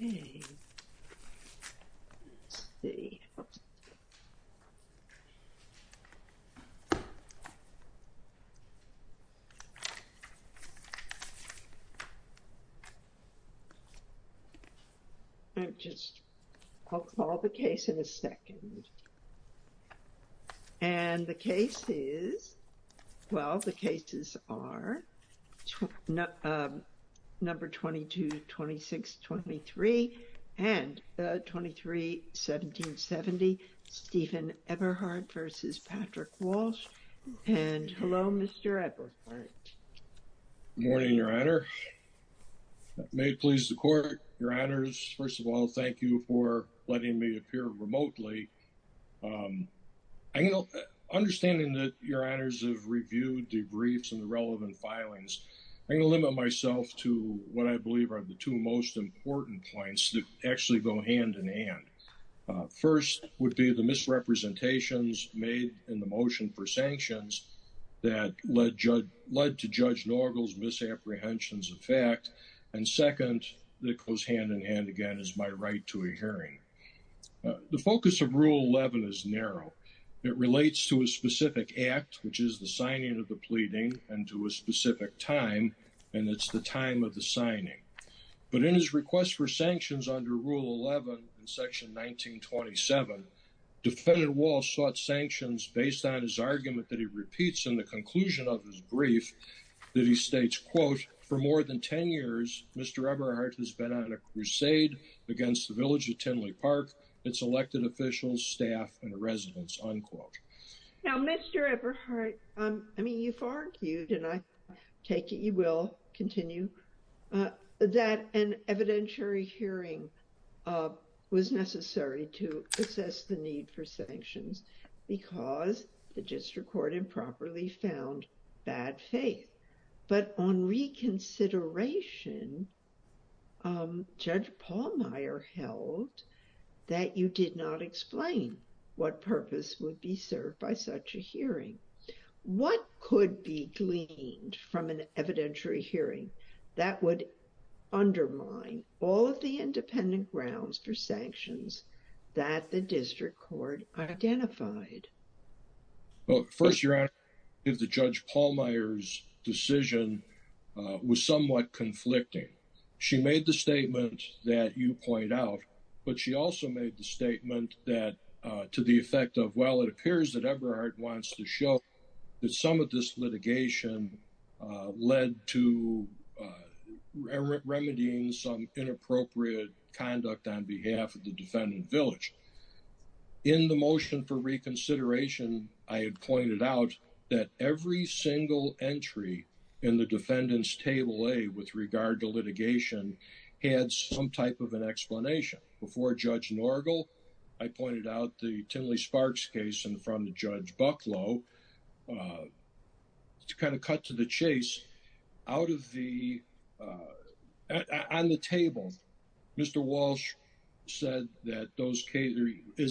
Let's see. I'll call the case in a second. And the case is, well, the cases are number 22, 26, 23, and 23, 17, 70, Stephen Eberhardt v. Patrick Walsh. And hello, Mr. Eberhardt. Good morning, Your Honor. May it please the Court, Your Honors. First of all, thank you for letting me appear remotely. Understanding that Your Honors have reviewed the briefs and the relevant filings, I'm going to limit myself to what I believe are the two most important points that actually go hand in hand. First would be the misrepresentations made in the motion for sanctions that led to Judge Norgle's misapprehensions of fact. And second, that goes hand in hand again is my right to a hearing. The focus of Rule 11 is narrow. It relates to a specific act, which is the signing of the pleading, and to a specific time, and it's the time of the signing. But in his request for sanctions under Rule 11 in Section 1927, Defendant Walsh sought sanctions based on his argument that he repeats in the Mr. Eberhardt has been on a crusade against the village of Tinley Park, its elected officials, staff, and residents, unquote. Now, Mr. Eberhardt, I mean, you've argued, and I take it you will continue, that an evidentiary hearing was necessary to assess the need for sanctions because the district court improperly found bad faith. But on reconsideration, Judge Pallmeyer held that you did not explain what purpose would be served by such a hearing. What could be gleaned from an evidentiary hearing that would undermine all of the evidence that you provide? Well, first, Your Honor, I think that Judge Pallmeyer's decision was somewhat conflicting. She made the statement that you point out, but she also made the statement that to the effect of, well, it appears that Eberhardt wants to show that some of this litigation led to remedying some inappropriate conduct on behalf of the defendant village. In the motion for reconsideration, I had pointed out that every single entry in the defendant's table A with regard to litigation had some type of an explanation. Before Judge Norgel, I pointed out the Tinley Sparks case in front of Judge Bucklow, which is kind of cut to the chase. On the table, Mr. Walsh said that in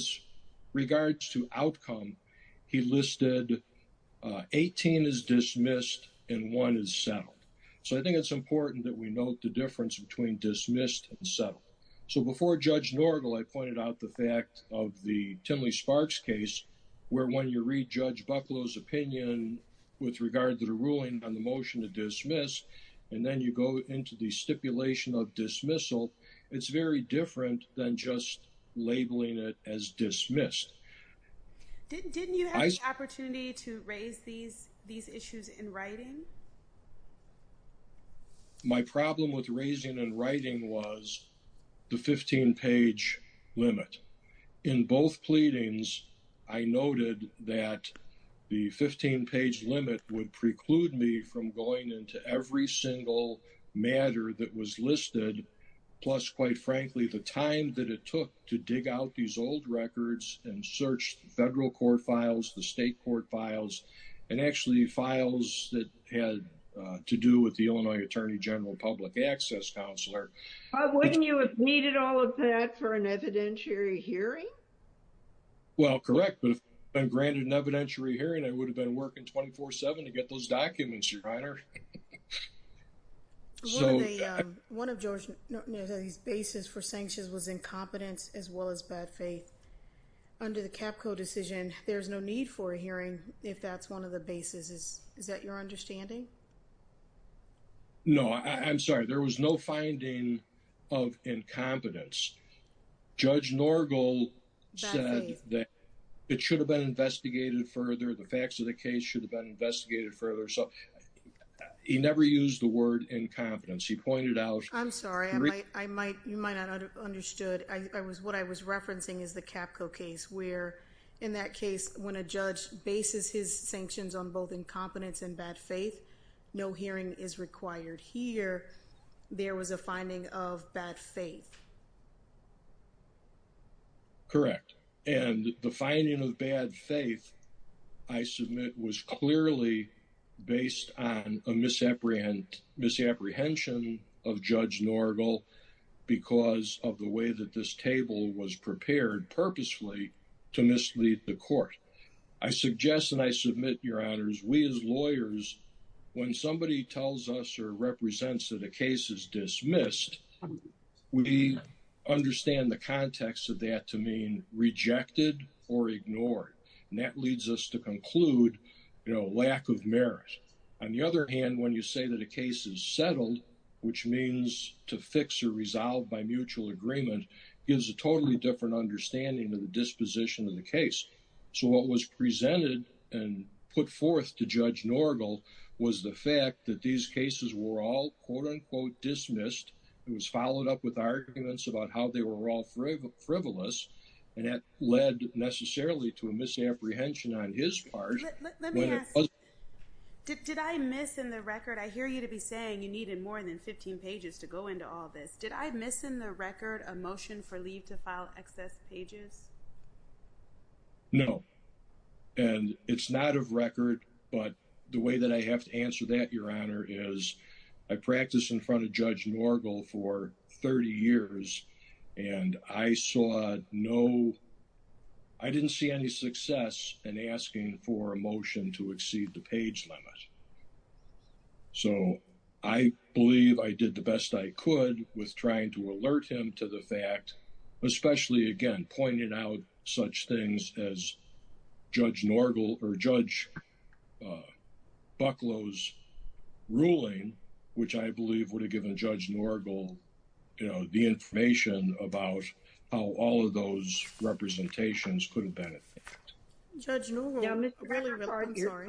regards to outcome, he listed 18 as dismissed and one as settled. So I think it's important that we note the difference between dismissed and settled. So before Judge Norgel, I pointed out the fact of the Tinley Sparks case where when you read Judge Bucklow's opinion with regard to the ruling on the motion to dismiss, and then you go into the stipulation of dismissal, it's very different than just labeling it as dismissed. Didn't you have the opportunity to raise these issues in writing? My problem with raising and writing was the 15-page limit. In both pleadings, I noted that the 15-page limit would preclude me from going into every single matter that was listed, plus, quite frankly, the time that it took to dig out these old records and search federal court files, and actually files that had to do with the Illinois Attorney General Public Access Counselor. Wouldn't you have needed all of that for an evidentiary hearing? Well, correct, but if I'd been granted an evidentiary hearing, I would have been working 24-7 to get those documents, Your Honor. One of Judge Norgel's basis for sanctions was incompetence as well as bad faith. Under the CAPCO decision, there's no need for a hearing if that's one of the basis. Is that your understanding? No. I'm sorry. There was no finding of incompetence. Judge Norgel said that it should have been investigated further, the facts of the case should have been investigated further, so he never used the word incompetence. He pointed is the CAPCO case where, in that case, when a judge bases his sanctions on both incompetence and bad faith, no hearing is required. Here, there was a finding of bad faith. Correct. The finding of bad faith, I submit, was clearly based on a misapprehension of Judge Norgel because of the way that this table was prepared purposefully to mislead the court. I suggest, and I submit, Your Honors, we as lawyers, when somebody tells us or represents that a case is dismissed, we understand the context of that to mean rejected or ignored, and that leads us to conclude, you know, lack of merit. On the other hand, when you say that a to fix or resolve by mutual agreement gives a totally different understanding of the disposition of the case. So what was presented and put forth to Judge Norgel was the fact that these cases were all, quote, unquote, dismissed. It was followed up with arguments about how they were all frivolous, and that led necessarily to a misapprehension on his part. Let me ask. Did I miss in the record, I hear you to be saying you needed more than 15 pages to go into all this. Did I miss in the record a motion for leave to file excess pages? No, and it's not of record, but the way that I have to answer that, Your Honor, is I practiced in front of Judge Norgel for 30 years, and I saw no, I didn't see any success in asking for a motion to exceed the page limit. So I believe I did the best I could with trying to alert him to the fact, especially, again, pointing out such things as Judge Norgel, or Judge Bucklow's ruling, which I believe would have given Judge Norgel, you know, the information about how all of those representations could have been. Judge Norgel, I'm sorry.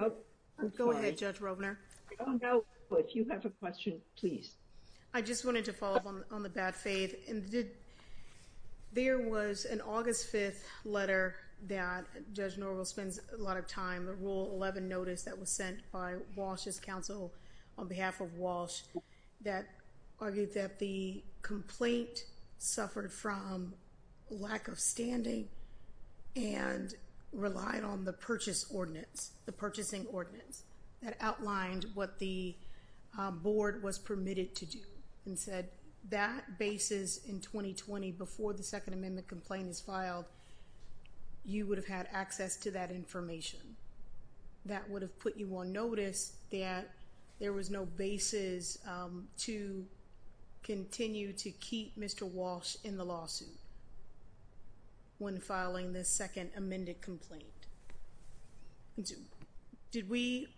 Go ahead, Judge Rovner. If you have a question, please. I just wanted to follow up on the bad faith. There was an August 5th letter that Judge Norgel spends a lot of time, the Rule 11 notice that was sent by Walsh's counsel on behalf of Walsh that argued that the complaint suffered from lack of standing and relied on the purchase ordinance, the purchasing ordinance that outlined what the board was permitted to do, and said that basis in 2020, before the Second Amendment complaint is filed, you would have had access to that continue to keep Mr. Walsh in the lawsuit when filing the Second Amendment complaint. Did we,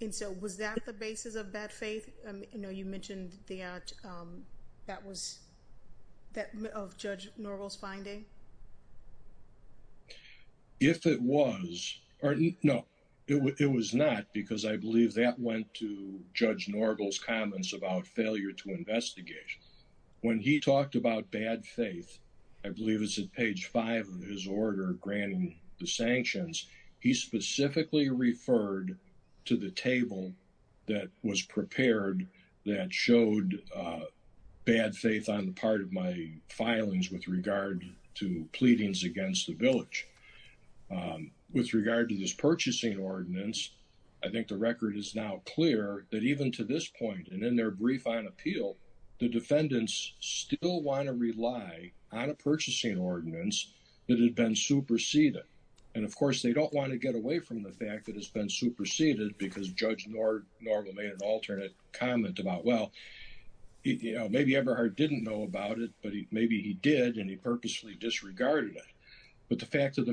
and so was that the basis of bad faith? I know you mentioned that was, of Judge Norgel's finding. If it was, or no, it was not because I believe that went to investigation. When he talked about bad faith, I believe it's at page five of his order granting the sanctions, he specifically referred to the table that was prepared that showed bad faith on the part of my filings with regard to pleadings against the village. With regard to this purchasing ordinance, I think the record is now clear that even to this point, and in their brief on appeal, the defendants still want to rely on a purchasing ordinance that had been superseded. And of course, they don't want to get away from the fact that it's been superseded because Judge Norgel made an alternate comment about, well, maybe Eberhardt didn't know about it, but maybe he did, and he purposely disregarded it. But the fact of the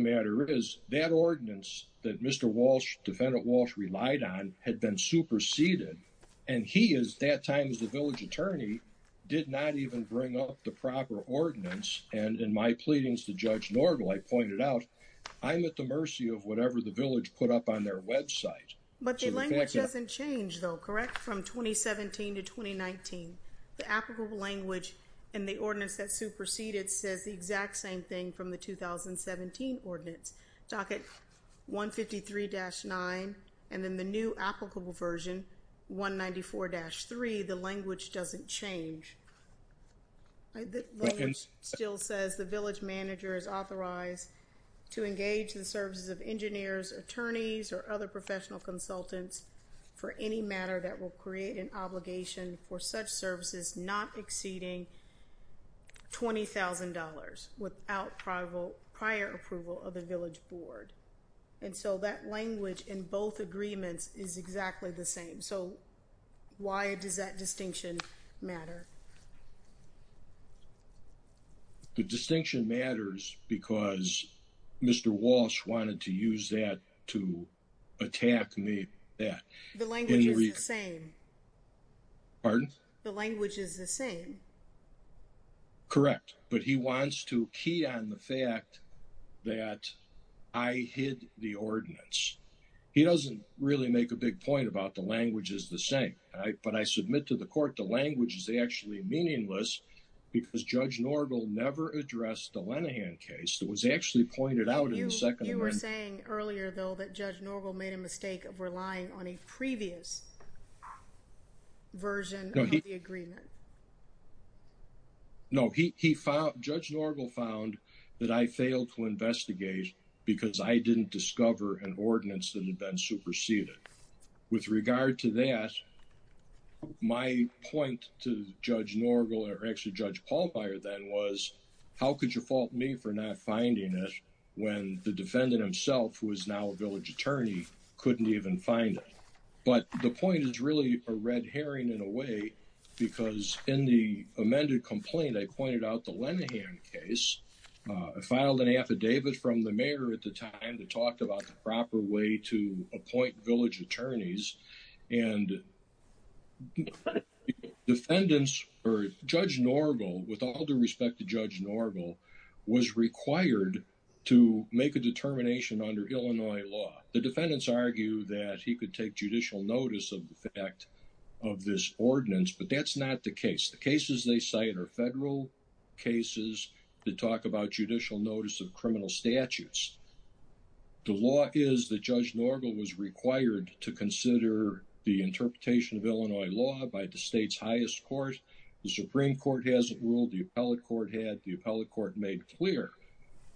that time is the village attorney did not even bring up the proper ordinance. And in my pleadings to Judge Norgel, I pointed out, I'm at the mercy of whatever the village put up on their website. But the language doesn't change though, correct? From 2017 to 2019, the applicable language and the ordinance that superseded says the exact same thing from the 2017 ordinance. Docket 153-9, and then the new applicable version 194-3, the language doesn't change. Still says the village manager is authorized to engage the services of engineers, attorneys, or other professional consultants for any matter that will create an obligation for such services not exceeding $20,000 without prior approval of the village board. And so that language in both agreements is exactly the same. So why does that distinction matter? The distinction matters because Mr. Walsh wanted to use that to attack that. The language is the same. Pardon? The language is the same. Correct. But he wants to key on the fact that I hid the ordinance. He doesn't really make a big point about the language is the same. But I submit to the court the language is actually meaningless because Judge Norgel never addressed the Lenahan case that was actually pointed out in the Second Amendment. You were saying earlier though that Judge Norgel made a mistake of relying on a previous version. No, Judge Norgel found that I failed to investigate because I didn't discover an ordinance that had been superseded. With regard to that, my point to Judge Norgel or actually Judge Pallbier then was, how could you fault me for not finding it when the defendant himself, who is now a village attorney, couldn't even find it? But the point is really a red herring in a way because in the amended complaint, I pointed out the Lenahan case. I filed an affidavit from the mayor at the time to talk about the proper way to appoint village attorneys. And defendants or Judge Norgel, with all due respect to Judge Norgel, was required to make a determination under Illinois law. The defendants argue that he could take judicial notice of the fact of this ordinance, but that's not the case. The cases they cite are federal cases that talk about judicial notice of criminal statutes. The law is that Judge Norgel was required to consider the interpretation of Illinois law by the state's highest court. The Supreme Court hasn't ruled. The appellate court had. The appellate court made clear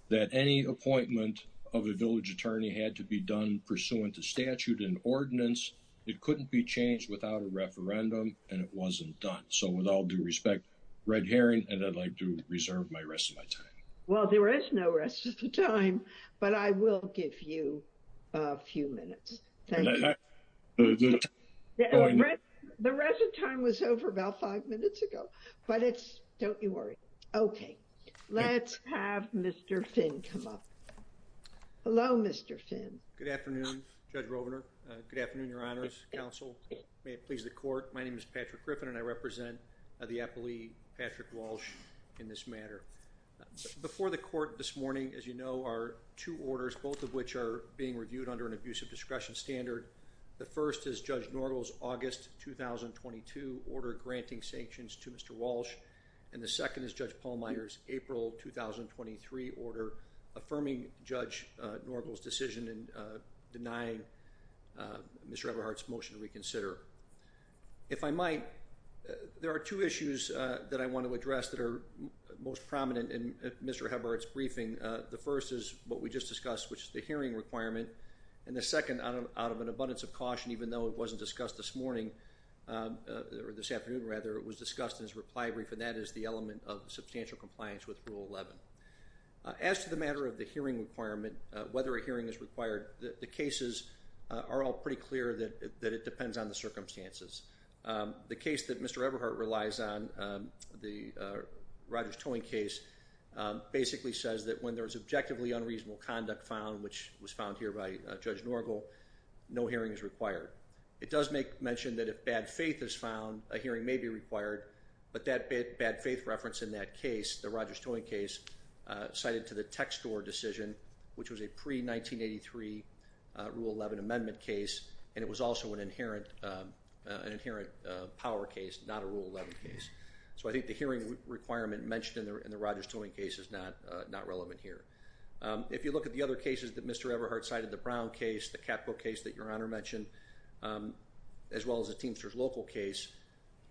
that any appointment of a village attorney had to be done pursuant to statute and ordinance. It couldn't be changed without a referendum, and it wasn't done. So with all due respect, red herring, and I'd like to reserve my rest of my time. Well, there is no rest of the time, but I will give you a few minutes. The rest of time was over about five minutes ago, but don't you worry. Okay. Let's have Mr. Finn come up. Hello, Mr. Finn. Good afternoon, Judge Rovner. Good afternoon, Your Honor's counsel. May it please the court. My name is Patrick Griffin, and I represent the appellee, Patrick Walsh, in this matter. Before the court this morning, as you know, are two orders, both of which are being reviewed under an abusive discretion standard. The first is Judge Norgel's August 2022 order granting sanctions to Mr. Walsh, and the second is Judge Pallmeyer's April 2023 order affirming Judge Norgel's decision in denying Mr. Eberhardt's motion to reconsider. If I might, there are two issues that I want to address that are most prominent in Mr. Eberhardt's briefing. The first is what we just discussed, which is the hearing requirement, and the second, out of an abundance of caution, even though it wasn't discussed this morning, or this afternoon rather, it was discussed in his reply brief, and that is the element of substantial compliance with Rule 11. As to the matter of the hearing requirement, whether a hearing is required, the cases are all pretty clear that it depends on the circumstances. The case that Mr. Eberhardt relies on, the Rogers Towing case, basically says that when there's objectively unreasonable conduct found, which was found here by Judge Norgel, no hearing is required. It does make mention that if bad faith is found, a hearing may be required, but that bad faith reference in that case, the Rogers Towing case, cited to the Tech Store decision, which was a pre-1983 Rule 11 amendment case, and it was also an inherent power case, not a Rule 11 case. So I think the hearing requirement mentioned in the Rogers Towing case is not relevant here. If you look at the other cases that Mr. Eberhardt cited, the Brown case, the Catbook case that Your Honor mentioned, as well as the Teamsters Local case,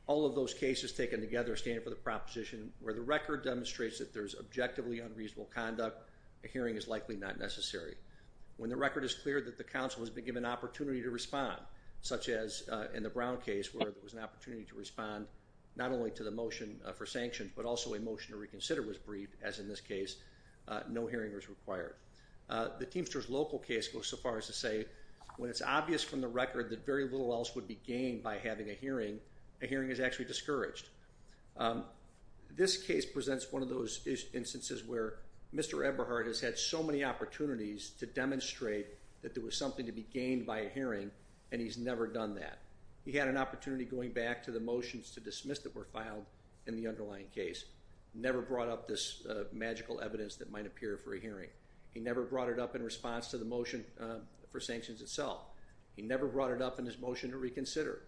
all of those cases taken together stand for the proposition where the record demonstrates that there's objectively unreasonable conduct, a hearing is likely not necessary. When the record is clear that the counsel has been given an opportunity to respond, such as in the Brown case where there was an opportunity to respond not only to the motion for sanctions, but also a motion to reconsider was briefed, as in this case, no hearing was required. The Teamsters Local case goes so far as to say when it's obvious from the record that very little else would be gained by having a hearing, a hearing is actually discouraged. This case presents one of those instances where Mr. Eberhardt has had so many opportunities to demonstrate that there was something to be gained by a hearing, and he's never done that. He had an opportunity going back to the motions to dismiss that were filed in the underlying case, never brought up this magical evidence that might appear for a hearing. He never brought it up in response to the motion for sanctions itself. He never brought it up in his motion to reconsider.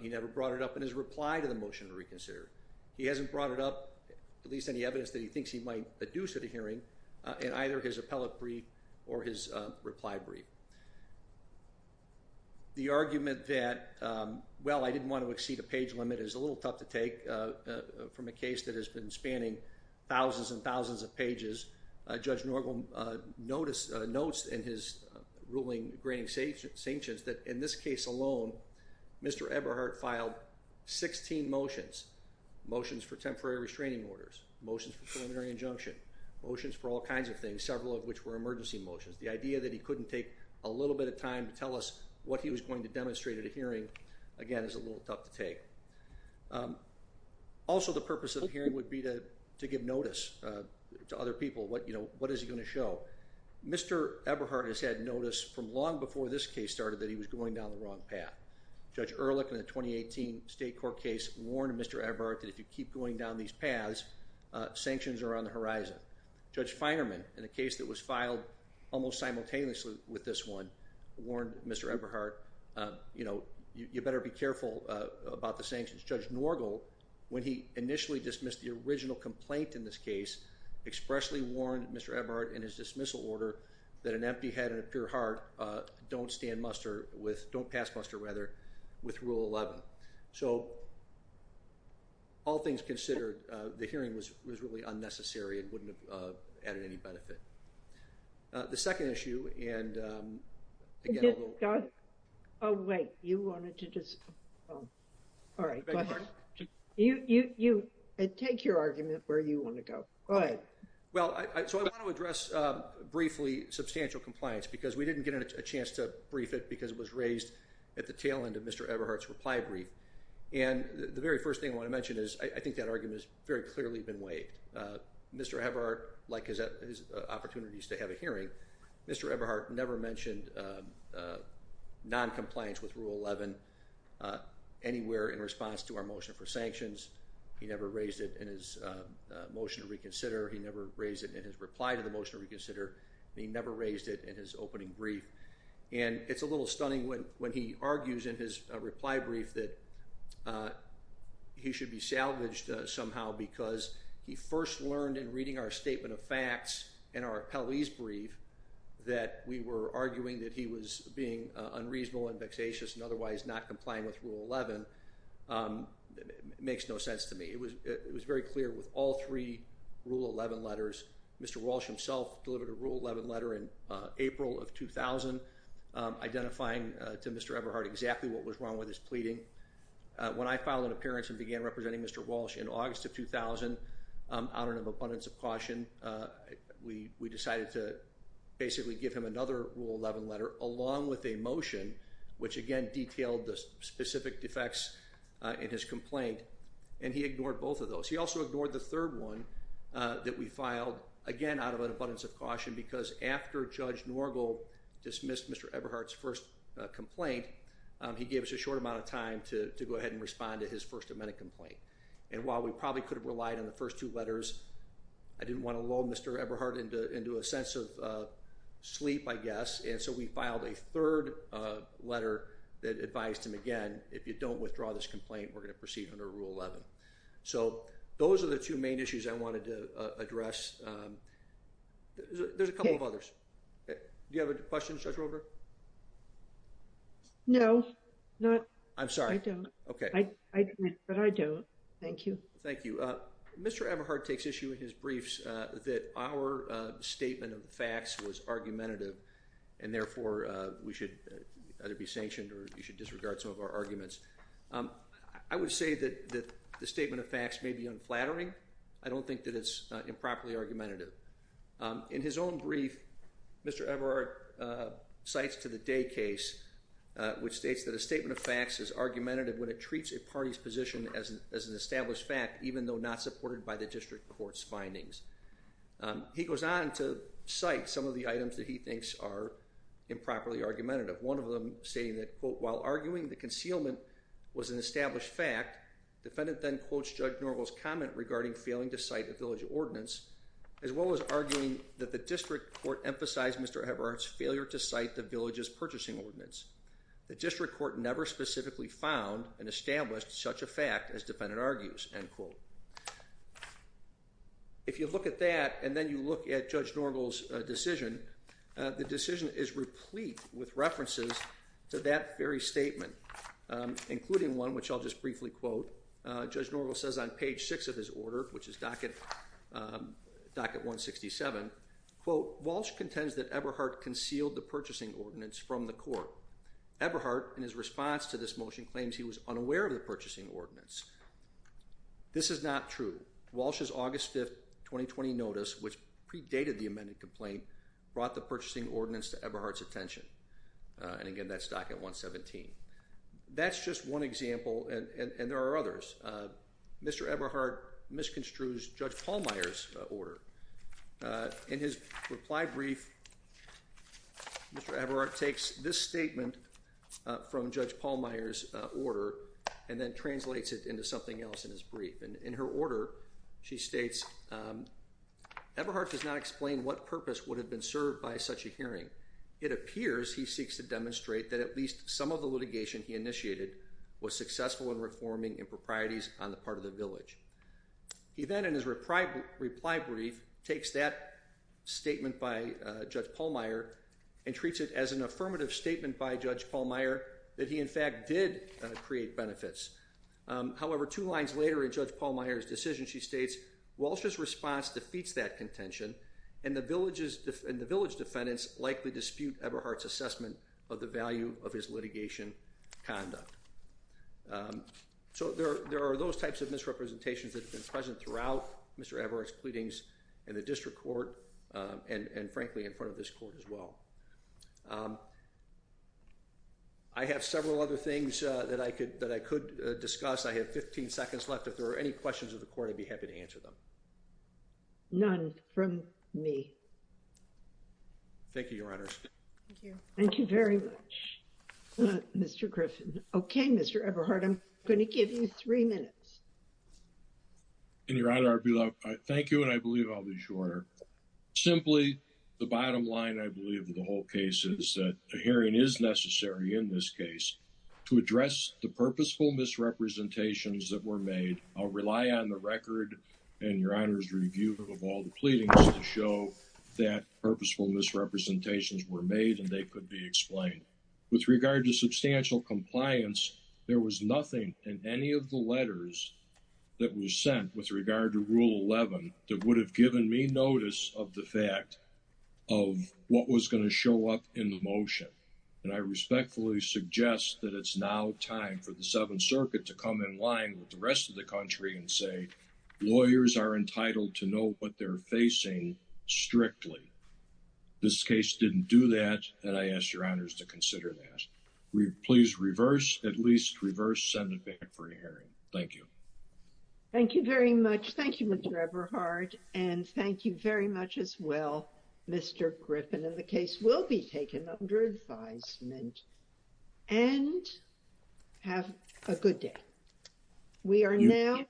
He never brought it up in his reply to the motion to reconsider. He hasn't brought it up, at least any evidence that he thinks he might adduce at a hearing, in either his appellate brief or his reply brief. The argument that, well, I didn't want to exceed a page limit is a little tough to take from a case that has been spanning thousands and thousands of pages. Judge Norgel notes in his ruling granting sanctions that in this case alone, Mr. Eberhardt filed 16 motions, motions for temporary restraining orders, motions for preliminary injunction, motions for all kinds of things, several of which were emergency motions. The idea that he couldn't take a little bit of time to tell us what he was going to demonstrate at a hearing, again, is a little tough to take. Also, the purpose of the hearing would be to give notice to other people. What is he going to show? Mr. Eberhardt has had notice from long before this case started that he was going down the wrong path. Judge Ehrlich, in the 2018 State Court case, warned Mr. Eberhardt that if you keep going down these paths, sanctions are on the horizon. Judge Feinerman, in a case that was filed almost simultaneously with this one, warned Mr. Eberhardt, you better be careful about the sanctions. Judge Norgel, when he initially dismissed the original complaint in this case, expressly warned Mr. Eberhardt in his dismissal order that an empty head and a pure heart don't stand muster with, don't pass muster rather, with Rule 11. So, all things considered, the hearing was really unnecessary and wouldn't have added any benefit. The second issue, and again... Oh wait, you wanted to just... All right, go ahead. You take your argument where you want to go. Go ahead. Well, so I want to address briefly substantial compliance because we didn't get a chance to brief it because it was raised at the tail end of Mr. Eberhardt's reply brief. And the very first thing I want to mention is I think that argument has very clearly been waived. Mr. Eberhardt, like his opportunities to have a hearing, Mr. Eberhardt never mentioned non-compliance with Rule 11 anywhere in response to our motion for sanctions. He never raised it in his motion to reconsider, he never raised it in his reply to the motion to reconsider, and he never raised it in his opening brief. And it's a little stunning when he argues in his reply brief that he should be salvaged somehow because he first learned in reading our statement of facts in our appellee's brief that we were arguing that he was being unreasonable and vexatious and otherwise not complying with Rule 11. It makes no sense to me. It was very clear with all three Rule 11 letters. Mr. Walsh himself delivered a Rule 11 letter in April of 2000 identifying to Mr. Eberhardt exactly what was wrong with his pleading. When I filed an appearance and began representing Mr. Walsh in August of 2000, out of an abundance of caution, we decided to basically give him another Rule 11 letter along with a motion which again detailed the specific defects in his complaint, and he ignored both of those. He also ignored the third one that we filed, again out of an abundance of caution, because after Judge Norgal dismissed Mr. Eberhardt's first complaint, he gave us a short amount of time to go ahead and respond to his First Amendment complaint. And while we probably could have relied on the first two letters, I didn't want to lull Mr. Eberhardt into a sense of sleep, I guess, and so we filed a third letter that advised him again, if you don't withdraw this complaint, we're going to proceed under Rule 11. So, those are the two main issues I wanted to address. There's a couple of others. Do you have a question, Judge Roper? No. I'm sorry. I don't. Okay. But I don't. Thank you. Thank you. Mr. Eberhardt takes issue in his briefs that our statement of the facts was argumentative, and therefore we should either be sanctioned or we should disregard some of our arguments. I would say that the statement of facts may be unflattering. I don't think that it's improperly argumentative. In his own brief, Mr. Eberhardt cites to the day case, which states that a statement of facts is argumentative when it treats a party's position as an established fact, even though not supported by the district court's findings. He goes on to cite some of the items that he thinks are improperly argumentative. One of them stating that, quote, while arguing the concealment was an established fact, defendant then quotes Judge Norval's comment regarding failing to cite the village ordinance, as well as arguing that the district court emphasized Mr. Eberhardt's failure to cite the village's purchasing ordinance. The district court never specifically found and established such a fact as defendant argues, end quote. If you look at that and then you look at Judge Norval's decision, the decision is replete with references to that very statement, including one which I'll just briefly quote. Judge Norval says on page six of his order, which is docket 167, quote, Walsh contends that Eberhardt concealed the purchasing ordinance from the court. Eberhardt, in his response to this motion, claims he was unaware of the purchasing ordinance. This is not true. Walsh's August 5th, 2020 notice, which predated the amended complaint, brought the purchasing ordinance to Eberhardt's attention. And again, that's docket 117. That's just one example, and there are others. Mr. Eberhardt misconstrues Judge Palmire's order. In his reply brief, Mr. Eberhardt takes this statement from Judge Palmire's order and then translates it into something else in his brief. And in her order, she states, Eberhardt does not explain what purpose would have been served by such a hearing. It appears he seeks to demonstrate that at least some of the litigation he initiated was successful in reforming improprieties on the part of the village. He then, in his reply brief, that statement by Judge Palmire and treats it as an affirmative statement by Judge Palmire that he, in fact, did create benefits. However, two lines later in Judge Palmire's decision, she states, Walsh's response defeats that contention, and the village defendants likely dispute Eberhardt's assessment of the value of his litigation conduct. So there are those types of misrepresentations that have been present throughout Mr. Eberhardt's pleadings in the district court and, frankly, in front of this court as well. I have several other things that I could discuss. I have 15 seconds left. If there are any questions of the court, I'd be happy to answer them. None from me. Thank you, Your Honor. Thank you very much, Mr. Griffin. Okay, Mr. Eberhardt, I'm going to give you three minutes. And, Your Honor, I'd be loved. Thank you, and I believe I'll be short. Simply, the bottom line, I believe, of the whole case is that a hearing is necessary in this case to address the purposeful misrepresentations that were made. I'll rely on the record and Your Honor's review of all the pleadings to show that purposeful misrepresentations were made and they could be explained. With regard to substantial compliance, there was nothing in any of the letters that was sent with regard to Rule 11 that would have given me notice of the fact of what was going to show up in the motion. And I respectfully suggest that it's now time for the Seventh Circuit to come in line with the rest of the country and say lawyers are entitled to know what they're facing strictly. This case didn't do that, and I ask Your Honor to consider that. Please reverse, at least reverse, send it back for a hearing. Thank you. Thank you very much. Thank you, Mr. Eberhardt, and thank you very much as well, Mr. Griffin. And the case will be taken under advisement. And have a good day. We are now...